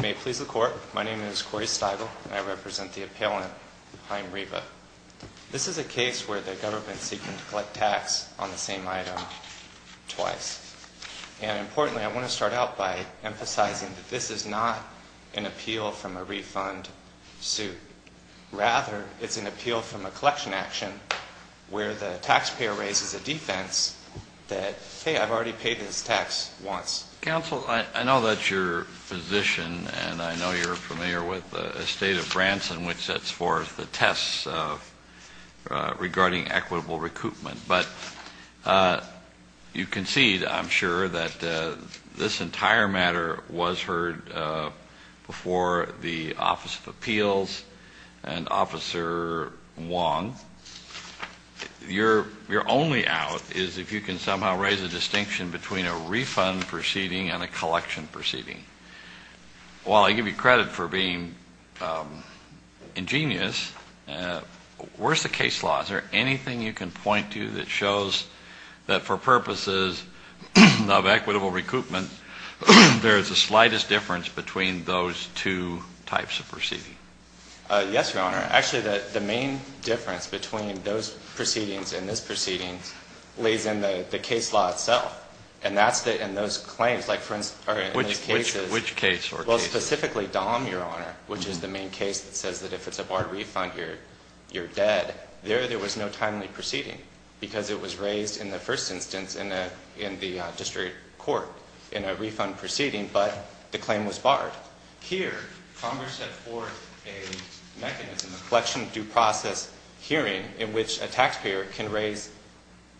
May it please the Court, my name is Corey Stigle and I represent the appellant Haim Revah. This is a case where the government is seeking to collect tax on the same item twice. And importantly, I want to start out by emphasizing that this is not an appeal from a refund suit. Rather, it's an appeal from a collection action where the taxpayer raises a defense that, hey, I've already paid this tax once. Counsel, I know that you're a physician and I know you're familiar with the state of Branson, which sets forth the tests regarding equitable recoupment. But you concede, I'm sure, that this entire matter was heard before the Office of Appeals and Officer Wong. Your only out is if you can somehow raise a distinction between a refund proceeding and a collection proceeding. While I give you credit for being ingenious, where's the case law? Is there anything you can point to that shows that for purposes of equitable recoupment, there is the slightest difference between those two types of proceeding? Yes, Your Honor. Actually, the main difference between those proceedings and this proceeding lays in the case law itself. And that's in those claims. Which case or cases? Well, specifically Dahm, Your Honor, which is the main case that says that if it's a barred refund, you're dead. There, there was no timely proceeding because it was raised in the first instance in the district court in a refund proceeding, but the claim was barred. Well, here, Congress set forth a mechanism, a collection due process hearing, in which a taxpayer can raise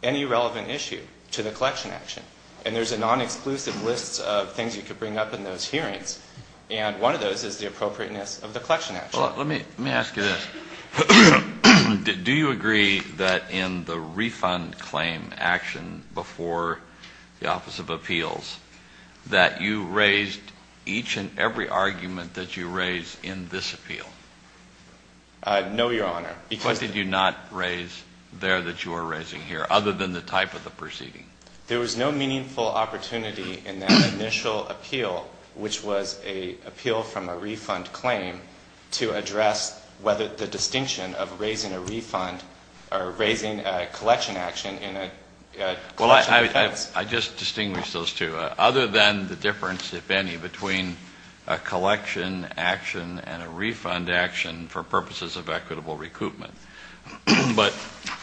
any relevant issue to the collection action. And there's a non-exclusive list of things you could bring up in those hearings, and one of those is the appropriateness of the collection action. Well, let me ask you this. Do you agree that in the refund claim action before the Office of Appeals, that you raised each and every argument that you raised in this appeal? No, Your Honor. Why did you not raise there that you are raising here, other than the type of the proceeding? There was no meaningful opportunity in that initial appeal, which was an appeal from a refund claim, to address whether the distinction of raising a refund or raising a collection action in a collection defense. Well, I just distinguished those two. Other than the difference, if any, between a collection action and a refund action for purposes of equitable recoupment. But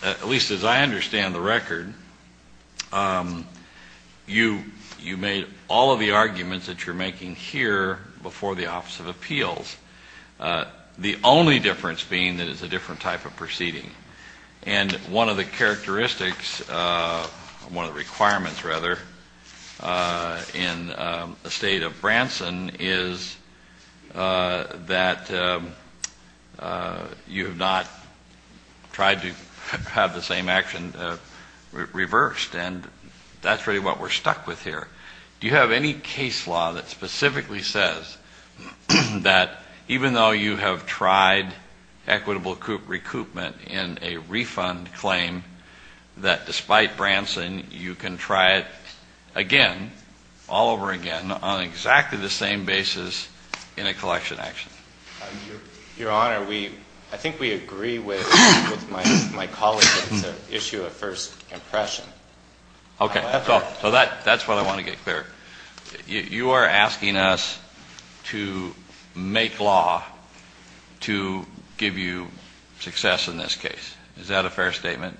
at least as I understand the record, you made all of the arguments that you're making here before the Office of Appeals, the only difference being that it's a different type of proceeding. And one of the characteristics, one of the requirements rather, in the state of Branson is that you have not tried to have the same action reversed. And that's really what we're stuck with here. Do you have any case law that specifically says that even though you have tried equitable recoupment in a refund claim, that despite Branson, you can try it again, all over again, on exactly the same basis in a collection action? Your Honor, I think we agree with my colleague that it's an issue of first impression. Okay. So that's what I want to get clear. You are asking us to make law to give you success in this case. Is that a fair statement?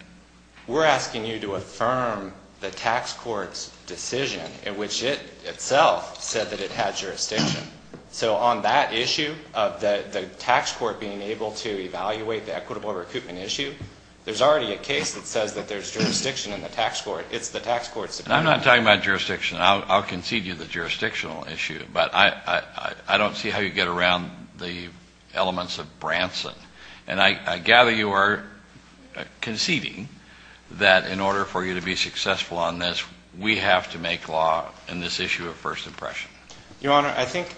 We're asking you to affirm the tax court's decision in which it itself said that it had jurisdiction. So on that issue of the tax court being able to evaluate the equitable recoupment issue, there's already a case that says that there's jurisdiction in the tax court. It's the tax court's decision. I'm not talking about jurisdiction. I'll concede you the jurisdictional issue, but I don't see how you get around the elements of Branson. And I gather you are conceding that in order for you to be successful on this, we have to make law in this issue of first impression. Your Honor, I think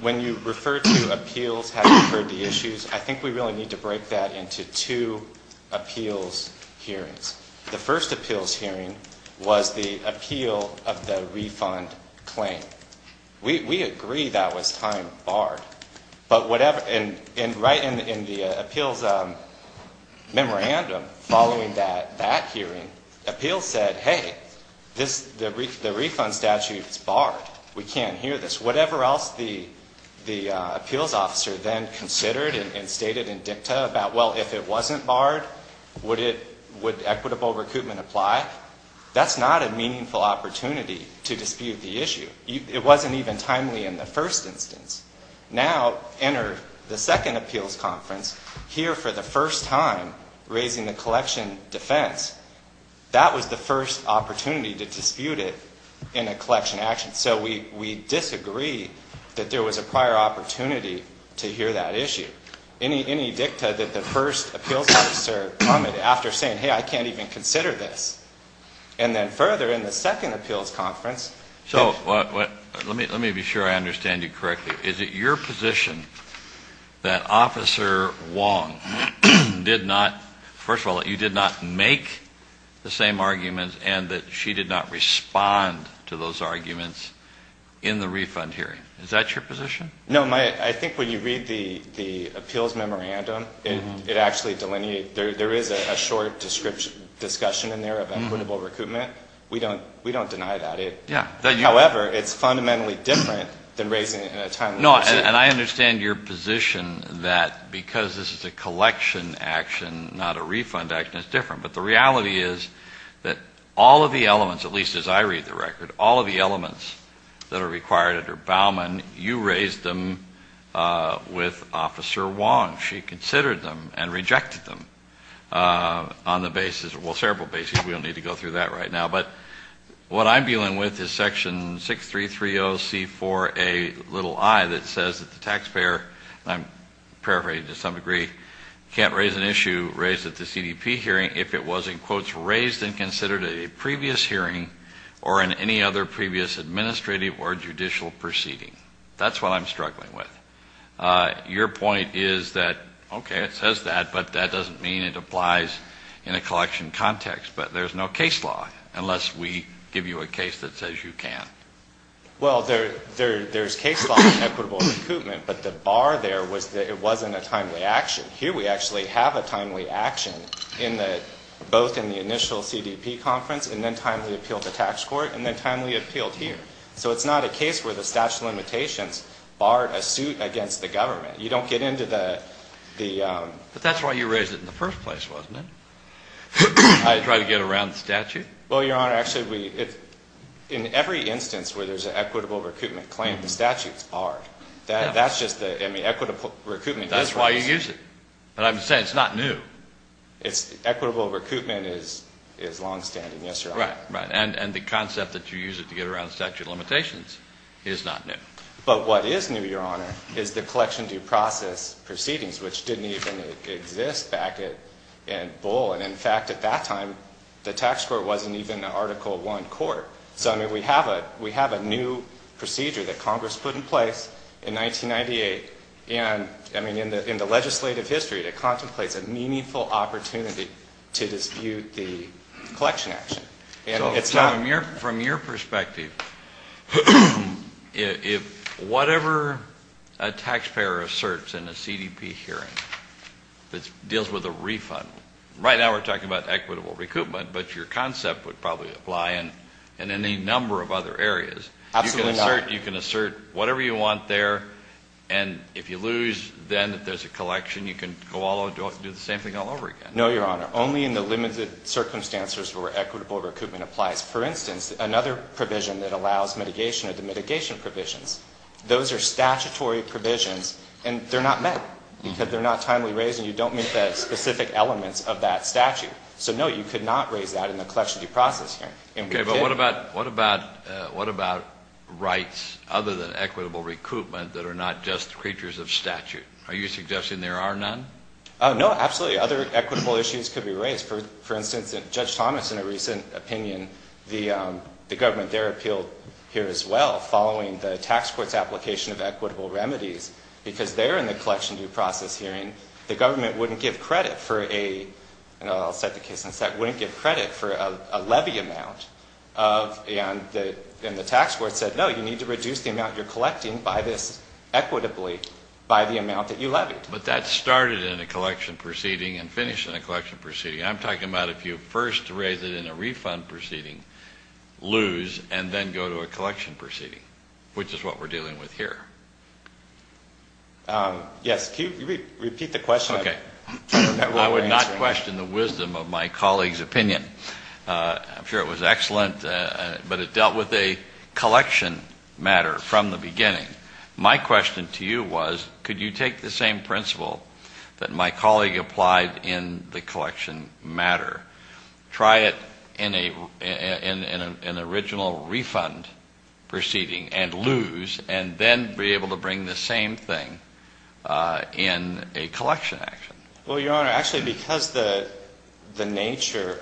when you refer to appeals having referred to issues, I think we really need to break that into two appeals hearings. The first appeals hearing was the appeal of the refund claim. We agree that was time barred. But right in the appeals memorandum following that hearing, appeals said, hey, the refund statute is barred. We can't hear this. Whatever else the appeals officer then considered and stated in dicta about, well, if it wasn't barred, would equitable recoupment apply, that's not a meaningful opportunity to dispute the issue. It wasn't even timely in the first instance. Now, enter the second appeals conference, here for the first time raising the collection defense. That was the first opportunity to dispute it in a collection action. So we disagree that there was a prior opportunity to hear that issue. Any dicta that the first appeals officer commented after saying, hey, I can't even consider this. And then further in the second appeals conference. So let me be sure I understand you correctly. Is it your position that Officer Wong did not, first of all, you did not make the same arguments and that she did not respond to those arguments in the refund hearing? Is that your position? No. I think when you read the appeals memorandum, it actually delineates. There is a short discussion in there of equitable recoupment. We don't deny that. No, and I understand your position that because this is a collection action, not a refund action, it's different. But the reality is that all of the elements, at least as I read the record, all of the elements that are required under Baumann, you raised them with Officer Wong. She considered them and rejected them on the basis, well, several bases. We don't need to go through that right now. But what I'm dealing with is Section 6330C4A little I that says that the taxpayer, and I'm paraphrasing to some degree, can't raise an issue raised at the CDP hearing if it was, in quotes, raised and considered at a previous hearing or in any other previous administrative or judicial proceeding. That's what I'm struggling with. Your point is that, okay, it says that, but that doesn't mean it applies in a collection context. But there's no case law unless we give you a case that says you can. Well, there's case law in equitable recoupment, but the bar there was that it wasn't a timely action. Here we actually have a timely action both in the initial CDP conference and then timely appealed to tax court and then timely appealed here. So it's not a case where the statute of limitations barred a suit against the government. You don't get into the ‑‑ But that's why you raised it in the first place, wasn't it? To try to get around the statute? Well, Your Honor, actually, in every instance where there's an equitable recoupment claim, the statute is barred. That's just the equitable recoupment. That's why you use it. But I'm saying it's not new. Equitable recoupment is longstanding, yes, Your Honor. Right, right. And the concept that you use it to get around statute of limitations is not new. But what is new, Your Honor, is the collection due process proceedings, which didn't even exist back in Bull. And, in fact, at that time, the tax court wasn't even an Article I court. So, I mean, we have a new procedure that Congress put in place in 1998. And, I mean, in the legislative history, it contemplates a meaningful opportunity to dispute the collection action. So, Tom, from your perspective, whatever a taxpayer asserts in a CDP hearing that deals with a refund, right now we're talking about equitable recoupment, but your concept would probably apply in any number of other areas. Absolutely not. You can assert whatever you want there, and if you lose, then if there's a collection, you can go all over and do the same thing all over again. No, Your Honor. Only in the limited circumstances where equitable recoupment applies. For instance, another provision that allows mitigation are the mitigation provisions. Those are statutory provisions, and they're not met because they're not timely raised, and you don't meet the specific elements of that statute. So, no, you could not raise that in the collection due process hearing. Okay, but what about rights other than equitable recoupment that are not just creatures of statute? Are you suggesting there are none? No, absolutely. Other equitable issues could be raised. For instance, Judge Thomas, in a recent opinion, the government there appealed here as well, following the tax court's application of equitable remedies, because there in the collection due process hearing, the government wouldn't give credit for a levy amount, and the tax court said, no, you need to reduce the amount you're collecting by this equitably by the amount that you levied. But that started in a collection proceeding and finished in a collection proceeding. I'm talking about if you first raise it in a refund proceeding, lose, and then go to a collection proceeding, which is what we're dealing with here. Yes, can you repeat the question? Okay. I would not question the wisdom of my colleague's opinion. I'm sure it was excellent, but it dealt with a collection matter from the beginning. My question to you was, could you take the same principle that my colleague applied in the collection matter, try it in an original refund proceeding and lose, and then be able to bring the same thing in a collection action? Well, Your Honor, actually because the nature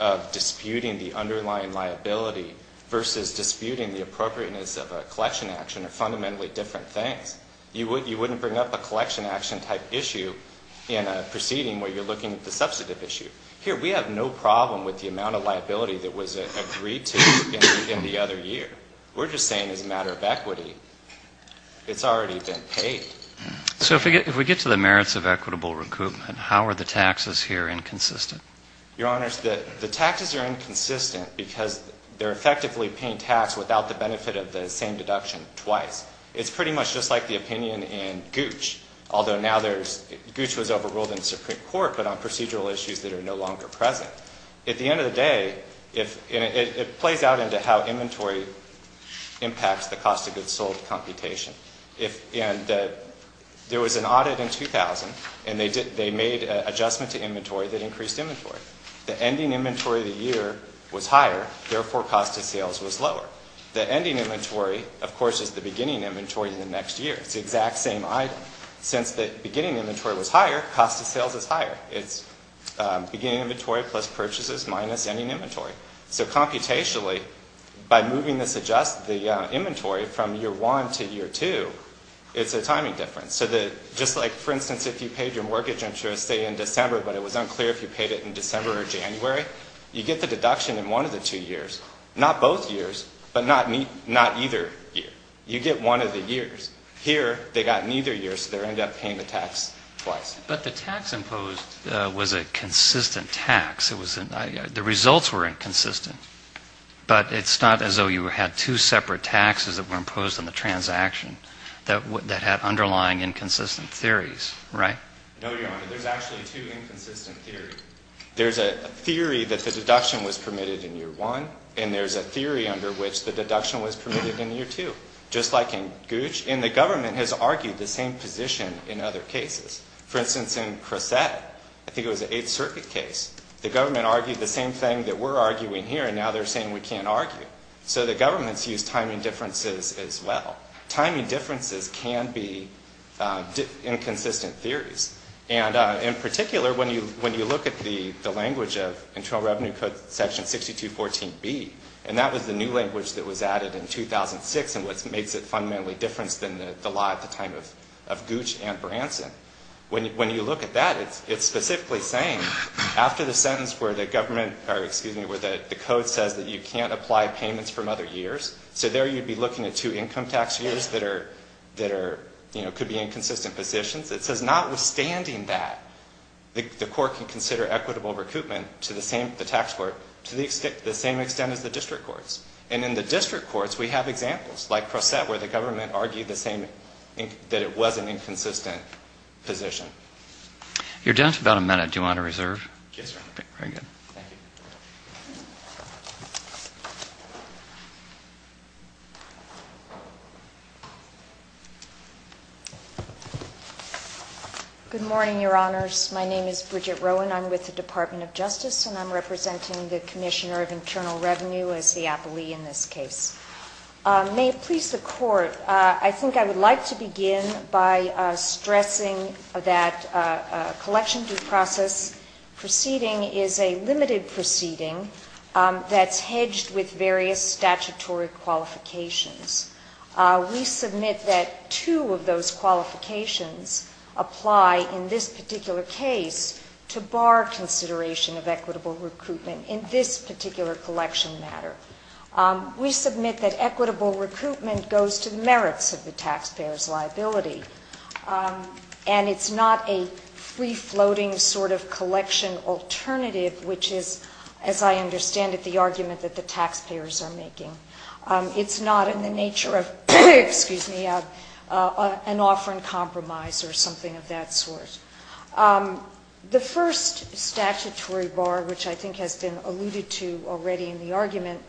of disputing the underlying liability versus disputing the appropriateness of a collection action are fundamentally different things. You wouldn't bring up a collection action-type issue in a proceeding where you're looking at the substantive issue. Here, we have no problem with the amount of liability that was agreed to in the other year. We're just saying as a matter of equity, it's already been paid. So if we get to the merits of equitable recoupment, how are the taxes here inconsistent? Your Honors, the taxes are inconsistent because they're effectively paying tax without the benefit of the same deduction twice. It's pretty much just like the opinion in Gooch, although now Gooch was overruled in the Supreme Court, but on procedural issues that are no longer present. At the end of the day, it plays out into how inventory impacts the cost of goods sold computation. And there was an audit in 2000, and they made an adjustment to inventory that increased inventory. The ending inventory of the year was higher, therefore cost of sales was lower. The ending inventory, of course, is the beginning inventory in the next year. It's the exact same item. Since the beginning inventory was higher, cost of sales is higher. It's beginning inventory plus purchases minus ending inventory. So computationally, by moving the inventory from year one to year two, it's a timing difference. So just like, for instance, if you paid your mortgage interest, say, in December, but it was unclear if you paid it in December or January, you get the deduction in one of the two years. Not both years, but not either year. You get one of the years. Here, they got neither year, so they ended up paying the tax twice. But the tax imposed was a consistent tax. The results were inconsistent, but it's not as though you had two separate taxes that were imposed on the transaction that had underlying inconsistent theories, right? No, Your Honor. There's actually two inconsistent theories. There's a theory that the deduction was permitted in year one, and there's a theory under which the deduction was permitted in year two, just like in Gooch. And the government has argued the same position in other cases. For instance, in Crosette, I think it was an Eighth Circuit case. The government argued the same thing that we're arguing here, and now they're saying we can't argue. So the government's used timing differences as well. Timing differences can be inconsistent theories. And in particular, when you look at the language of Internal Revenue Code Section 6214B, and that was the new language that was added in 2006 and what makes it fundamentally different than the law at the time of Gooch and Branson. When you look at that, it's specifically saying, after the sentence where the government or, excuse me, where the code says that you can't apply payments from other years, so there you'd be looking at two income tax years that could be inconsistent positions. It says notwithstanding that, the court can consider equitable recoupment to the same, the tax court, to the same extent as the district courts. And in the district courts, we have examples, like Crosette, where the government argued the same, that it was an inconsistent position. You're done for about a minute. Do you want to reserve? Yes, sir. Very good. Good morning, Your Honors. My name is Bridget Rowan. I'm with the Department of Justice, and I'm representing the Commissioner of Internal Revenue as the appellee in this case. May it please the Court, I think I would like to begin by stressing that a collection due process proceeding is a limited proceeding that's hedged with various statutory qualifications. We submit that two of those qualifications apply in this particular case to bar consideration of equitable recoupment in this particular collection matter. We submit that equitable recoupment goes to the merits of the taxpayer's liability, and it's not a free-floating sort of collection alternative, which is, as I understand it, the argument that the taxpayers are making. It's not in the nature of an offer in compromise or something of that sort. The first statutory bar, which I think has been alluded to already in the argument,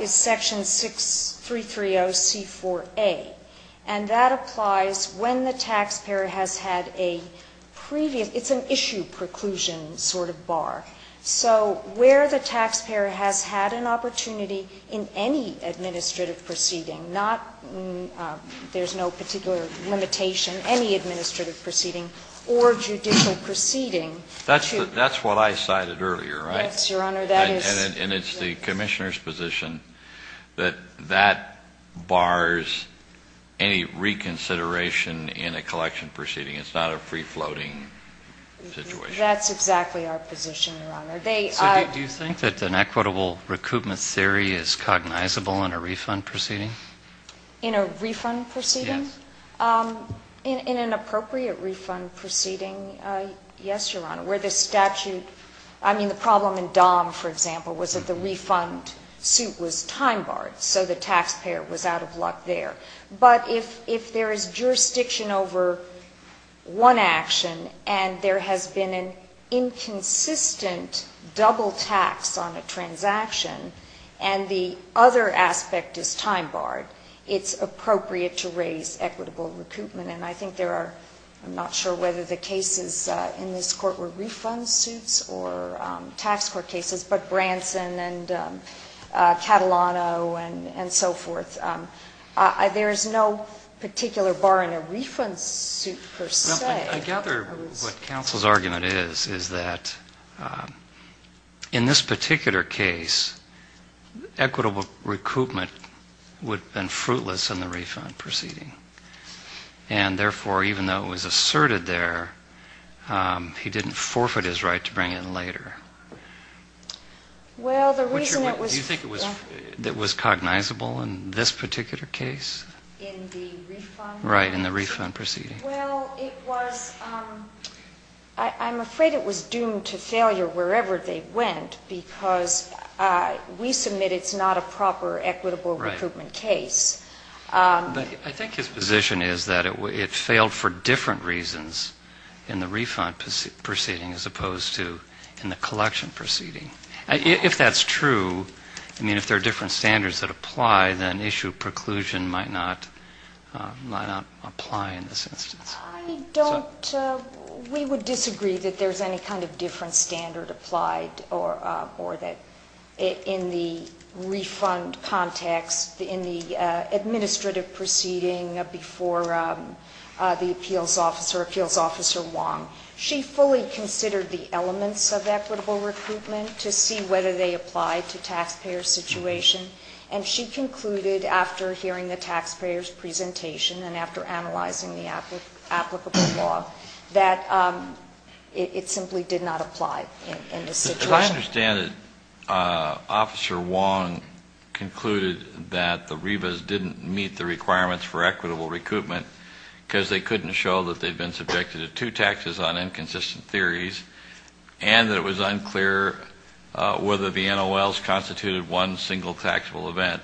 is Section 6330C4A, and that applies when the taxpayer has had a previous – it's an issue preclusion sort of bar. So where the taxpayer has had an opportunity in any administrative proceeding, there's no particular limitation, any administrative proceeding or judicial proceeding. That's what I cited earlier, right? Yes, Your Honor. And it's the Commissioner's position that that bars any reconsideration in a collection proceeding. It's not a free-floating situation. That's exactly our position, Your Honor. So do you think that an equitable recoupment theory is cognizable in a refund proceeding? In a refund proceeding? Yes. In an appropriate refund proceeding, yes, Your Honor. Where the statute – I mean, the problem in DOM, for example, was that the refund suit was time-barred, so the taxpayer was out of luck there. But if there is jurisdiction over one action and there has been an inconsistent double tax on a transaction and the other aspect is time-barred, it's appropriate to raise equitable recoupment. And I think there are – I'm not sure whether the cases in this Court were refund suits or tax court cases, but Branson and Catalano and so forth, there is no particular bar in a refund suit per se. I gather what counsel's argument is, is that in this particular case, equitable recoupment would have been fruitless in the refund proceeding. And therefore, even though it was asserted there, he didn't forfeit his right to bring it in later. Well, the reason it was – Do you think it was cognizable in this particular case? In the refund? Right, in the refund proceeding. Well, it was – I'm afraid it was doomed to failure wherever they went because we submit it's not a proper equitable recoupment case. But I think his position is that it failed for different reasons in the refund proceeding as opposed to in the collection proceeding. If that's true, I mean, if there are different standards that apply, then issue preclusion might not apply in this instance. I don't – we would disagree that there's any kind of different standard applied or that in the refund context, in the administrative proceeding before the appeals officer, Appeals Officer Wong, she fully considered the elements of equitable recoupment to see whether they apply to taxpayer situation. And she concluded after hearing the taxpayer's presentation and after analyzing the applicable law that it simply did not apply in this situation. But I understand that Officer Wong concluded that the REBAs didn't meet the requirements for equitable recoupment because they couldn't show that they've been subjected to two taxes on inconsistent theories and that it was unclear whether the NOLs constituted one single taxable event.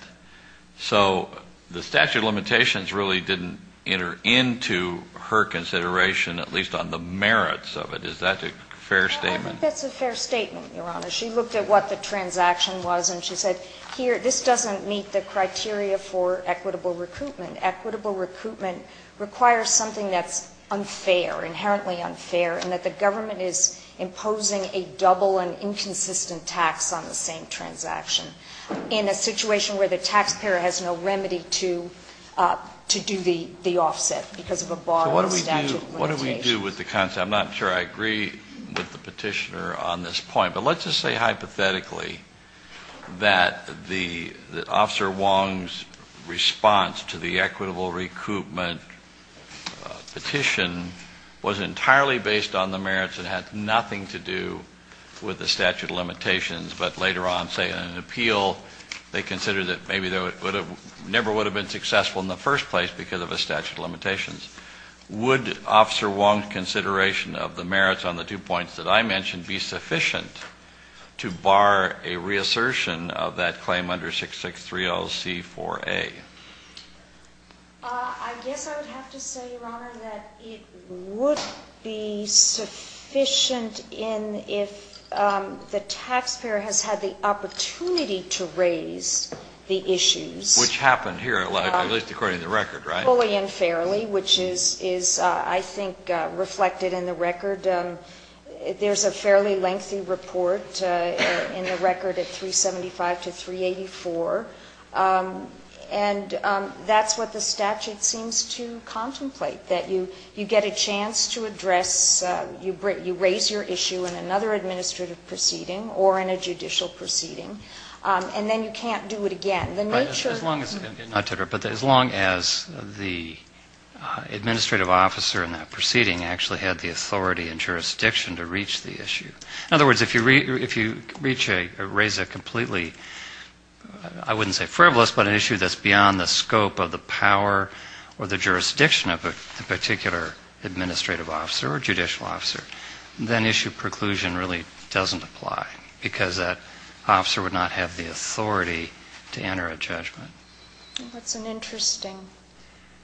So the statute of limitations really didn't enter into her consideration, at least on the merits of it. Is that a fair statement? I think that's a fair statement, Your Honor. She looked at what the transaction was and she said, here, this doesn't meet the criteria for equitable recoupment. requires something that's unfair, inherently unfair, and that the government is imposing a double and inconsistent tax on the same transaction in a situation where the taxpayer has no remedy to do the offset because of a bar in the statute of limitations. So what do we do with the concept? I'm not sure I agree with the petitioner on this point. But let's just say hypothetically that Officer Wong's response to the equitable recoupment petition was entirely based on the merits and had nothing to do with the statute of limitations, but later on, say, in an appeal, they considered that maybe it never would have been successful in the first place because of a statute of limitations. Would Officer Wong's consideration of the merits on the two points that I mentioned be sufficient to bar a reassertion of that claim under 663LC4A? I guess I would have to say, Your Honor, that it would be sufficient if the taxpayer has had the opportunity to raise the issues. Which happened here, at least according to the record, right? Stably and fairly, which is, I think, reflected in the record. There's a fairly lengthy report in the record at 375 to 384, and that's what the statute seems to contemplate, that you get a chance to address, you raise your issue in another administrative proceeding or in a judicial proceeding, and then you can't do it again. As long as the administrative officer in that proceeding actually had the authority and jurisdiction to reach the issue. In other words, if you reach a, raise a completely, I wouldn't say frivolous, but an issue that's beyond the scope of the power or the jurisdiction of a particular administrative officer or judicial officer, then issue preclusion really doesn't apply because that officer would not have the authority to enter a judgment. That's an interesting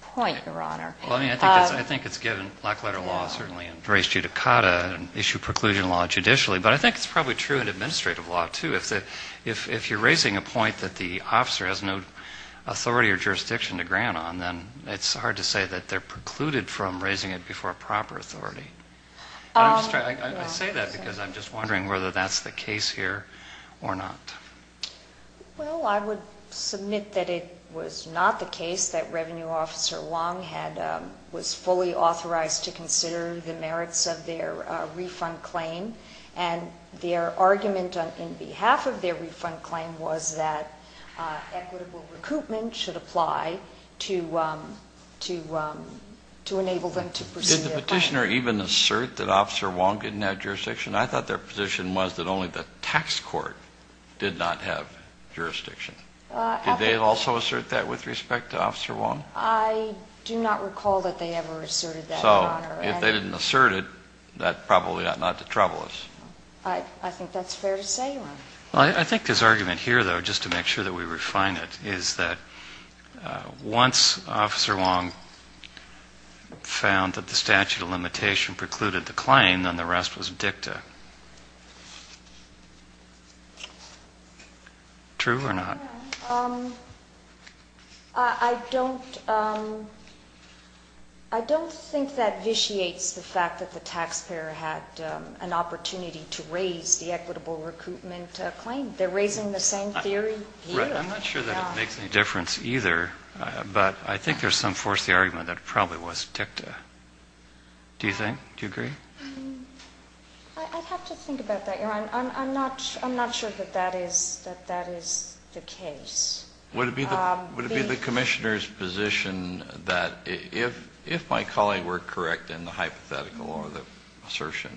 point, Your Honor. Well, I mean, I think it's given black-letter law, certainly, and race judicata, and issue preclusion law judicially, but I think it's probably true in administrative law, too. If you're raising a point that the officer has no authority or jurisdiction to grant on, then it's hard to say that they're precluded from raising it before proper authority. I say that because I'm just wondering whether that's the case here or not. Well, I would submit that it was not the case that Revenue Officer Long had, was fully authorized to consider the merits of their refund claim, and their argument in behalf of their refund claim was that equitable recoupment should apply to enable them to proceed their claim. Did the petitioner even assert that Officer Long didn't have jurisdiction? I thought their position was that only the tax court did not have jurisdiction. Did they also assert that with respect to Officer Long? I do not recall that they ever asserted that, Your Honor. So if they didn't assert it, that probably ought not to trouble us. I think that's fair to say, Your Honor. Well, I think his argument here, though, just to make sure that we refine it, is that once Officer Long found that the statute of limitation precluded the claim, then the rest was dicta. True or not? I don't think that vitiates the fact that the taxpayer had an opportunity to raise the equitable recoupment claim. They're raising the same theory here. I'm not sure that it makes any difference either, but I think there's some force in the argument that it probably was dicta. Do you think? Do you agree? I'd have to think about that, Your Honor. I'm not sure that that is the case. Would it be the commissioner's position that if my colleague were correct in the hypothetical or the assertion,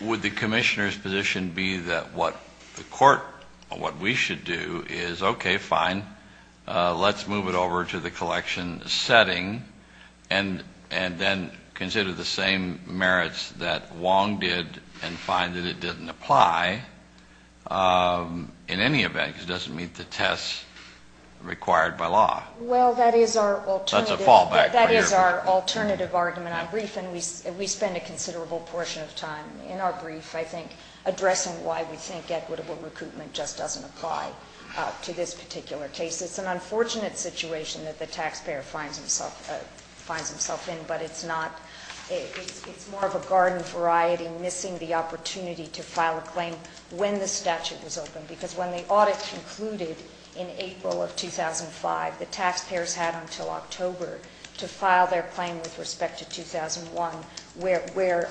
would the commissioner's position be that what the court, what we should do is, okay, fine, let's move it over to the collection setting and then consider the same merits that Wong did and find that it didn't apply in any event because it doesn't meet the tests required by law? Well, that is our alternative. That's a fallback. That is our alternative argument. I'm brief, and we spend a considerable portion of time in our brief, I think, addressing why we think equitable recoupment just doesn't apply to this particular case. It's an unfortunate situation that the taxpayer finds himself in, but it's more of a garden variety missing the opportunity to file a claim when the statute was open, because when the audit concluded in April of 2005, the taxpayers had until October to file their claim with respect to 2001, where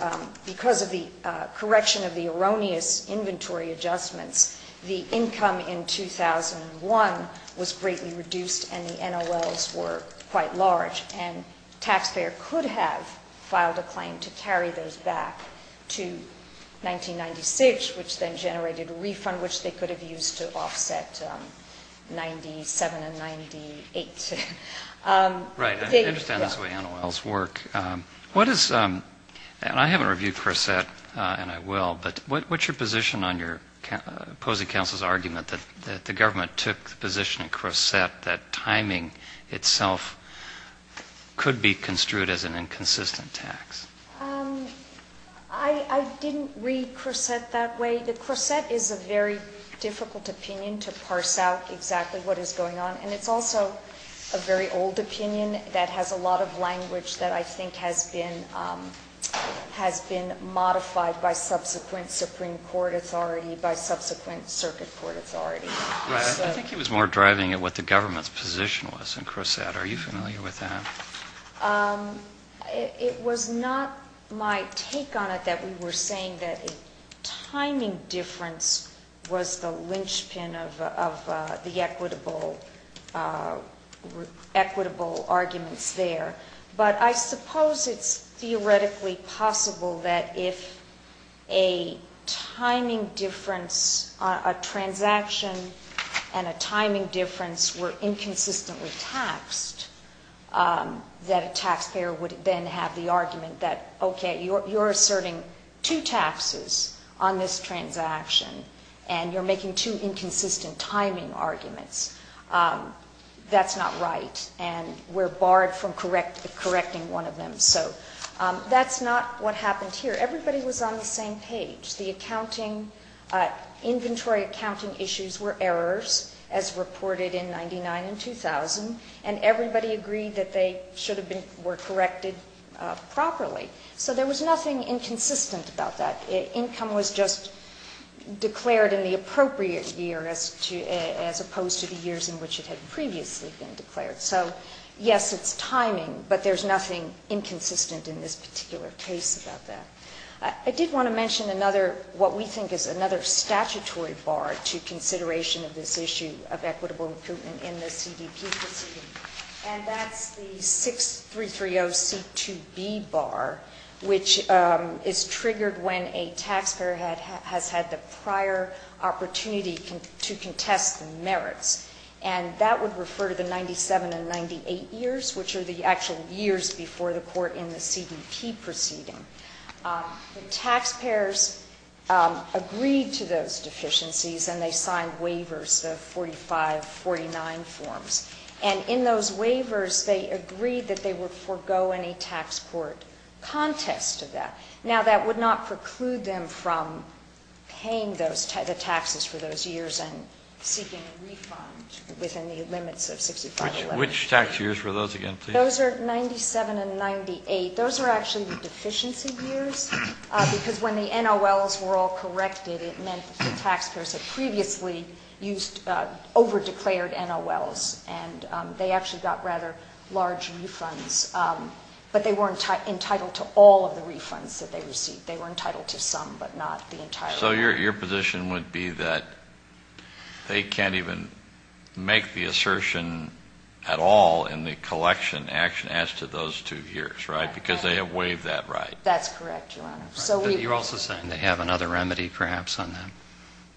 because of the correction of the erroneous inventory adjustments, the income in 2001 was greatly reduced and the NOLs were quite large, and the taxpayer could have filed a claim to carry those back to 1996, which then generated a refund which they could have used to offset 97 and 98. Right. I understand that's the way NOLs work. What is, and I haven't reviewed Crescent, and I will, but what's your position on your opposing counsel's argument that the government took the position at Crescent that timing itself could be construed as an inconsistent tax? I didn't read Crescent that way. Crescent is a very difficult opinion to parse out exactly what is going on, and it's also a very old opinion that has a lot of language that I think has been modified by subsequent Supreme Court authority, by subsequent circuit court authority. Right. I think he was more driving at what the government's position was in Crescent. Are you familiar with that? It was not my take on it that we were saying that timing difference was the linchpin of the equitable arguments there, but I suppose it's theoretically possible that if a timing difference, a transaction and a timing difference were inconsistently taxed, that a taxpayer would then have the argument that, okay, you're asserting two taxes on this transaction, and you're making two inconsistent timing arguments. That's not right, and we're barred from correcting one of them. So that's not what happened here. Everybody was on the same page. The accounting, inventory accounting issues were errors, as reported in 99 and 2000, and everybody agreed that they should have been, were corrected properly. So there was nothing inconsistent about that. Income was just declared in the appropriate year as opposed to the years in which it had previously been declared. So, yes, it's timing, but there's nothing inconsistent in this particular case about that. I did want to mention another, what we think is another statutory bar to consideration of this issue of equitable recoupment in the CDP proceeding, and that's the 6330C2B bar, which is triggered when a taxpayer has had the prior opportunity to contest the merits, and that would refer to the 97 and 98 years, which are the actual years before the court in the CDP proceeding. The taxpayers agreed to those deficiencies, and they signed waivers, the 4549 forms. And in those waivers, they agreed that they would forego any tax court contest to that. Now, that would not preclude them from paying the taxes for those years and seeking a refund within the limits of 6511. Which tax years were those again, please? Those are 97 and 98. Those are actually the deficiency years, because when the NOLs were all corrected, it meant that the taxpayers had previously used over-declared NOLs, and they actually got rather large refunds. But they weren't entitled to all of the refunds that they received. They were entitled to some, but not the entire amount. So your position would be that they can't even make the assertion at all in the collection as to those two years, right? Because they have waived that right. That's correct, Your Honor. But you're also saying they have another remedy, perhaps, on that?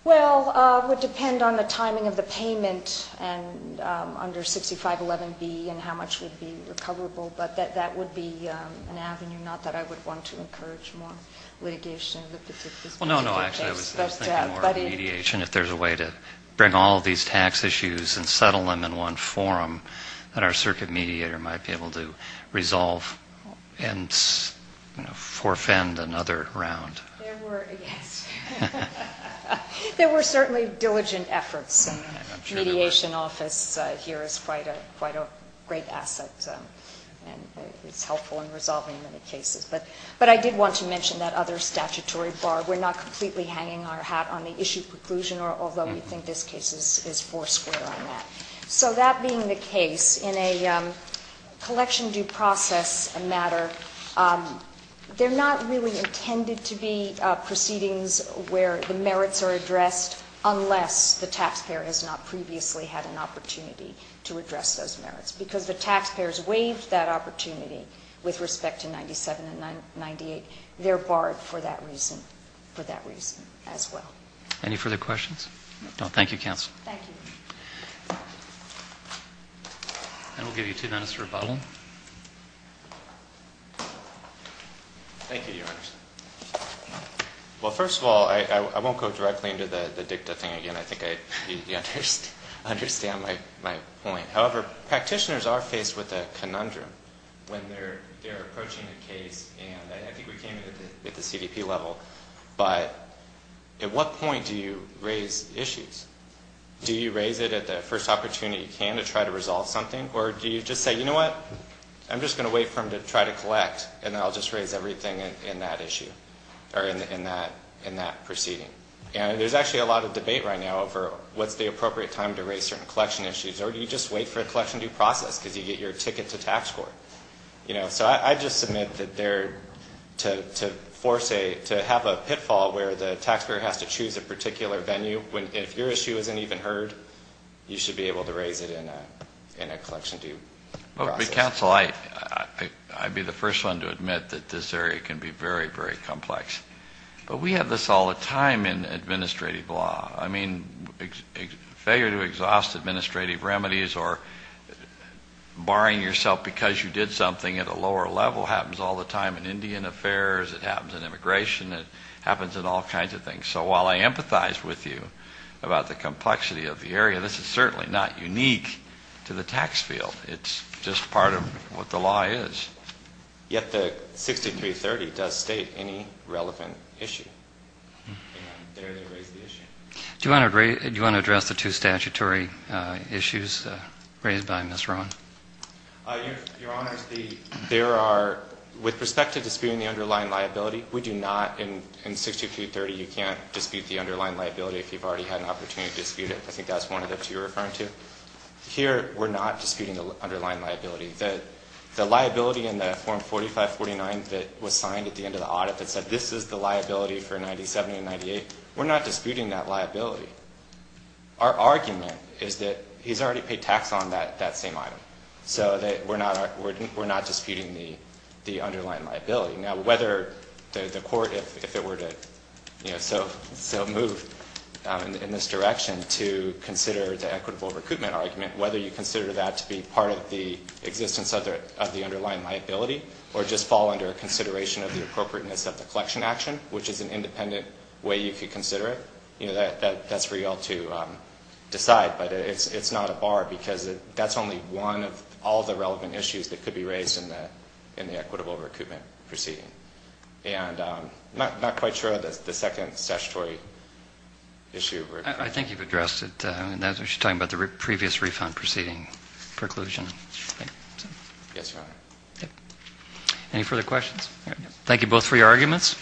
Well, it would depend on the timing of the payment and under 6511B and how much would be recoverable. But that would be an avenue, not that I would want to encourage more litigation of the particular case. Well, no, no. Actually, I was thinking more of mediation, if there's a way to bring all of these tax issues and settle them in one forum, that our circuit mediator might be able to resolve and, you know, forfend another round. There were, yes. There were certainly diligent efforts, and the mediation office here is quite a great asset, and is helpful in resolving many cases. But I did want to mention that other statutory bar. We're not completely hanging our hat on the issue preclusion, although we think this case is foursquare on that. So that being the case, in a collection due process matter, they're not really intended to be proceedings where the merits are addressed, unless the taxpayer has not previously had an opportunity to address those merits. Because the taxpayers waived that opportunity with respect to 97 and 98. They're barred for that reason as well. Any further questions? No. Thank you, counsel. Thank you. And we'll give you two minutes for rebuttal. Thank you, Your Honor. Well, first of all, I won't go directly into the dicta thing again. I think you understand my point. However, practitioners are faced with a conundrum when they're approaching a case. And I think we came in at the CDP level. But at what point do you raise issues? Do you raise it at the first opportunity you can to try to resolve something? Or do you just say, you know what, I'm just going to wait for him to try to collect, and then I'll just raise everything in that issue, or in that proceeding? And there's actually a lot of debate right now over what's the appropriate time to raise certain collection issues. Or do you just wait for a collection due process because you get your ticket to tax court? So I just submit that to have a pitfall where the taxpayer has to choose a particular venue, if your issue isn't even heard, you should be able to raise it in a collection due process. But, counsel, I'd be the first one to admit that this area can be very, very complex. But we have this all the time in administrative law. I mean, failure to exhaust administrative remedies or barring yourself because you did something at a lower level happens all the time in Indian affairs. It happens in immigration. It happens in all kinds of things. So while I empathize with you about the complexity of the area, this is certainly not unique to the tax field. It's just part of what the law is. Yet the 6330 does state any relevant issue. And there they raise the issue. Do you want to address the two statutory issues raised by Ms. Rowan? Your Honors, there are, with respect to disputing the underlying liability, we do not, in 6330, you can't dispute the underlying liability if you've already had an opportunity to dispute it. I think that's one of the two you're referring to. Here we're not disputing the underlying liability. The liability in the form 4549 that was signed at the end of the audit that said this is the liability for 97 and 98, we're not disputing that liability. Our argument is that he's already paid tax on that same item. So we're not disputing the underlying liability. Now, whether the court, if it were to move in this direction to consider the equitable recoupment argument, whether you consider that to be part of the existence of the underlying liability or just fall under consideration of the appropriateness of the collection action, which is an independent way you could consider it, that's for you all to decide. But it's not a bar because that's only one of all the relevant issues that could be raised in the equitable recoupment proceeding. And I'm not quite sure of the second statutory issue. I think you've addressed it. You're talking about the previous refund proceeding preclusion. Yes, Your Honor. Any further questions? Thank you both for your arguments.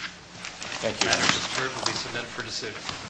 Thank you.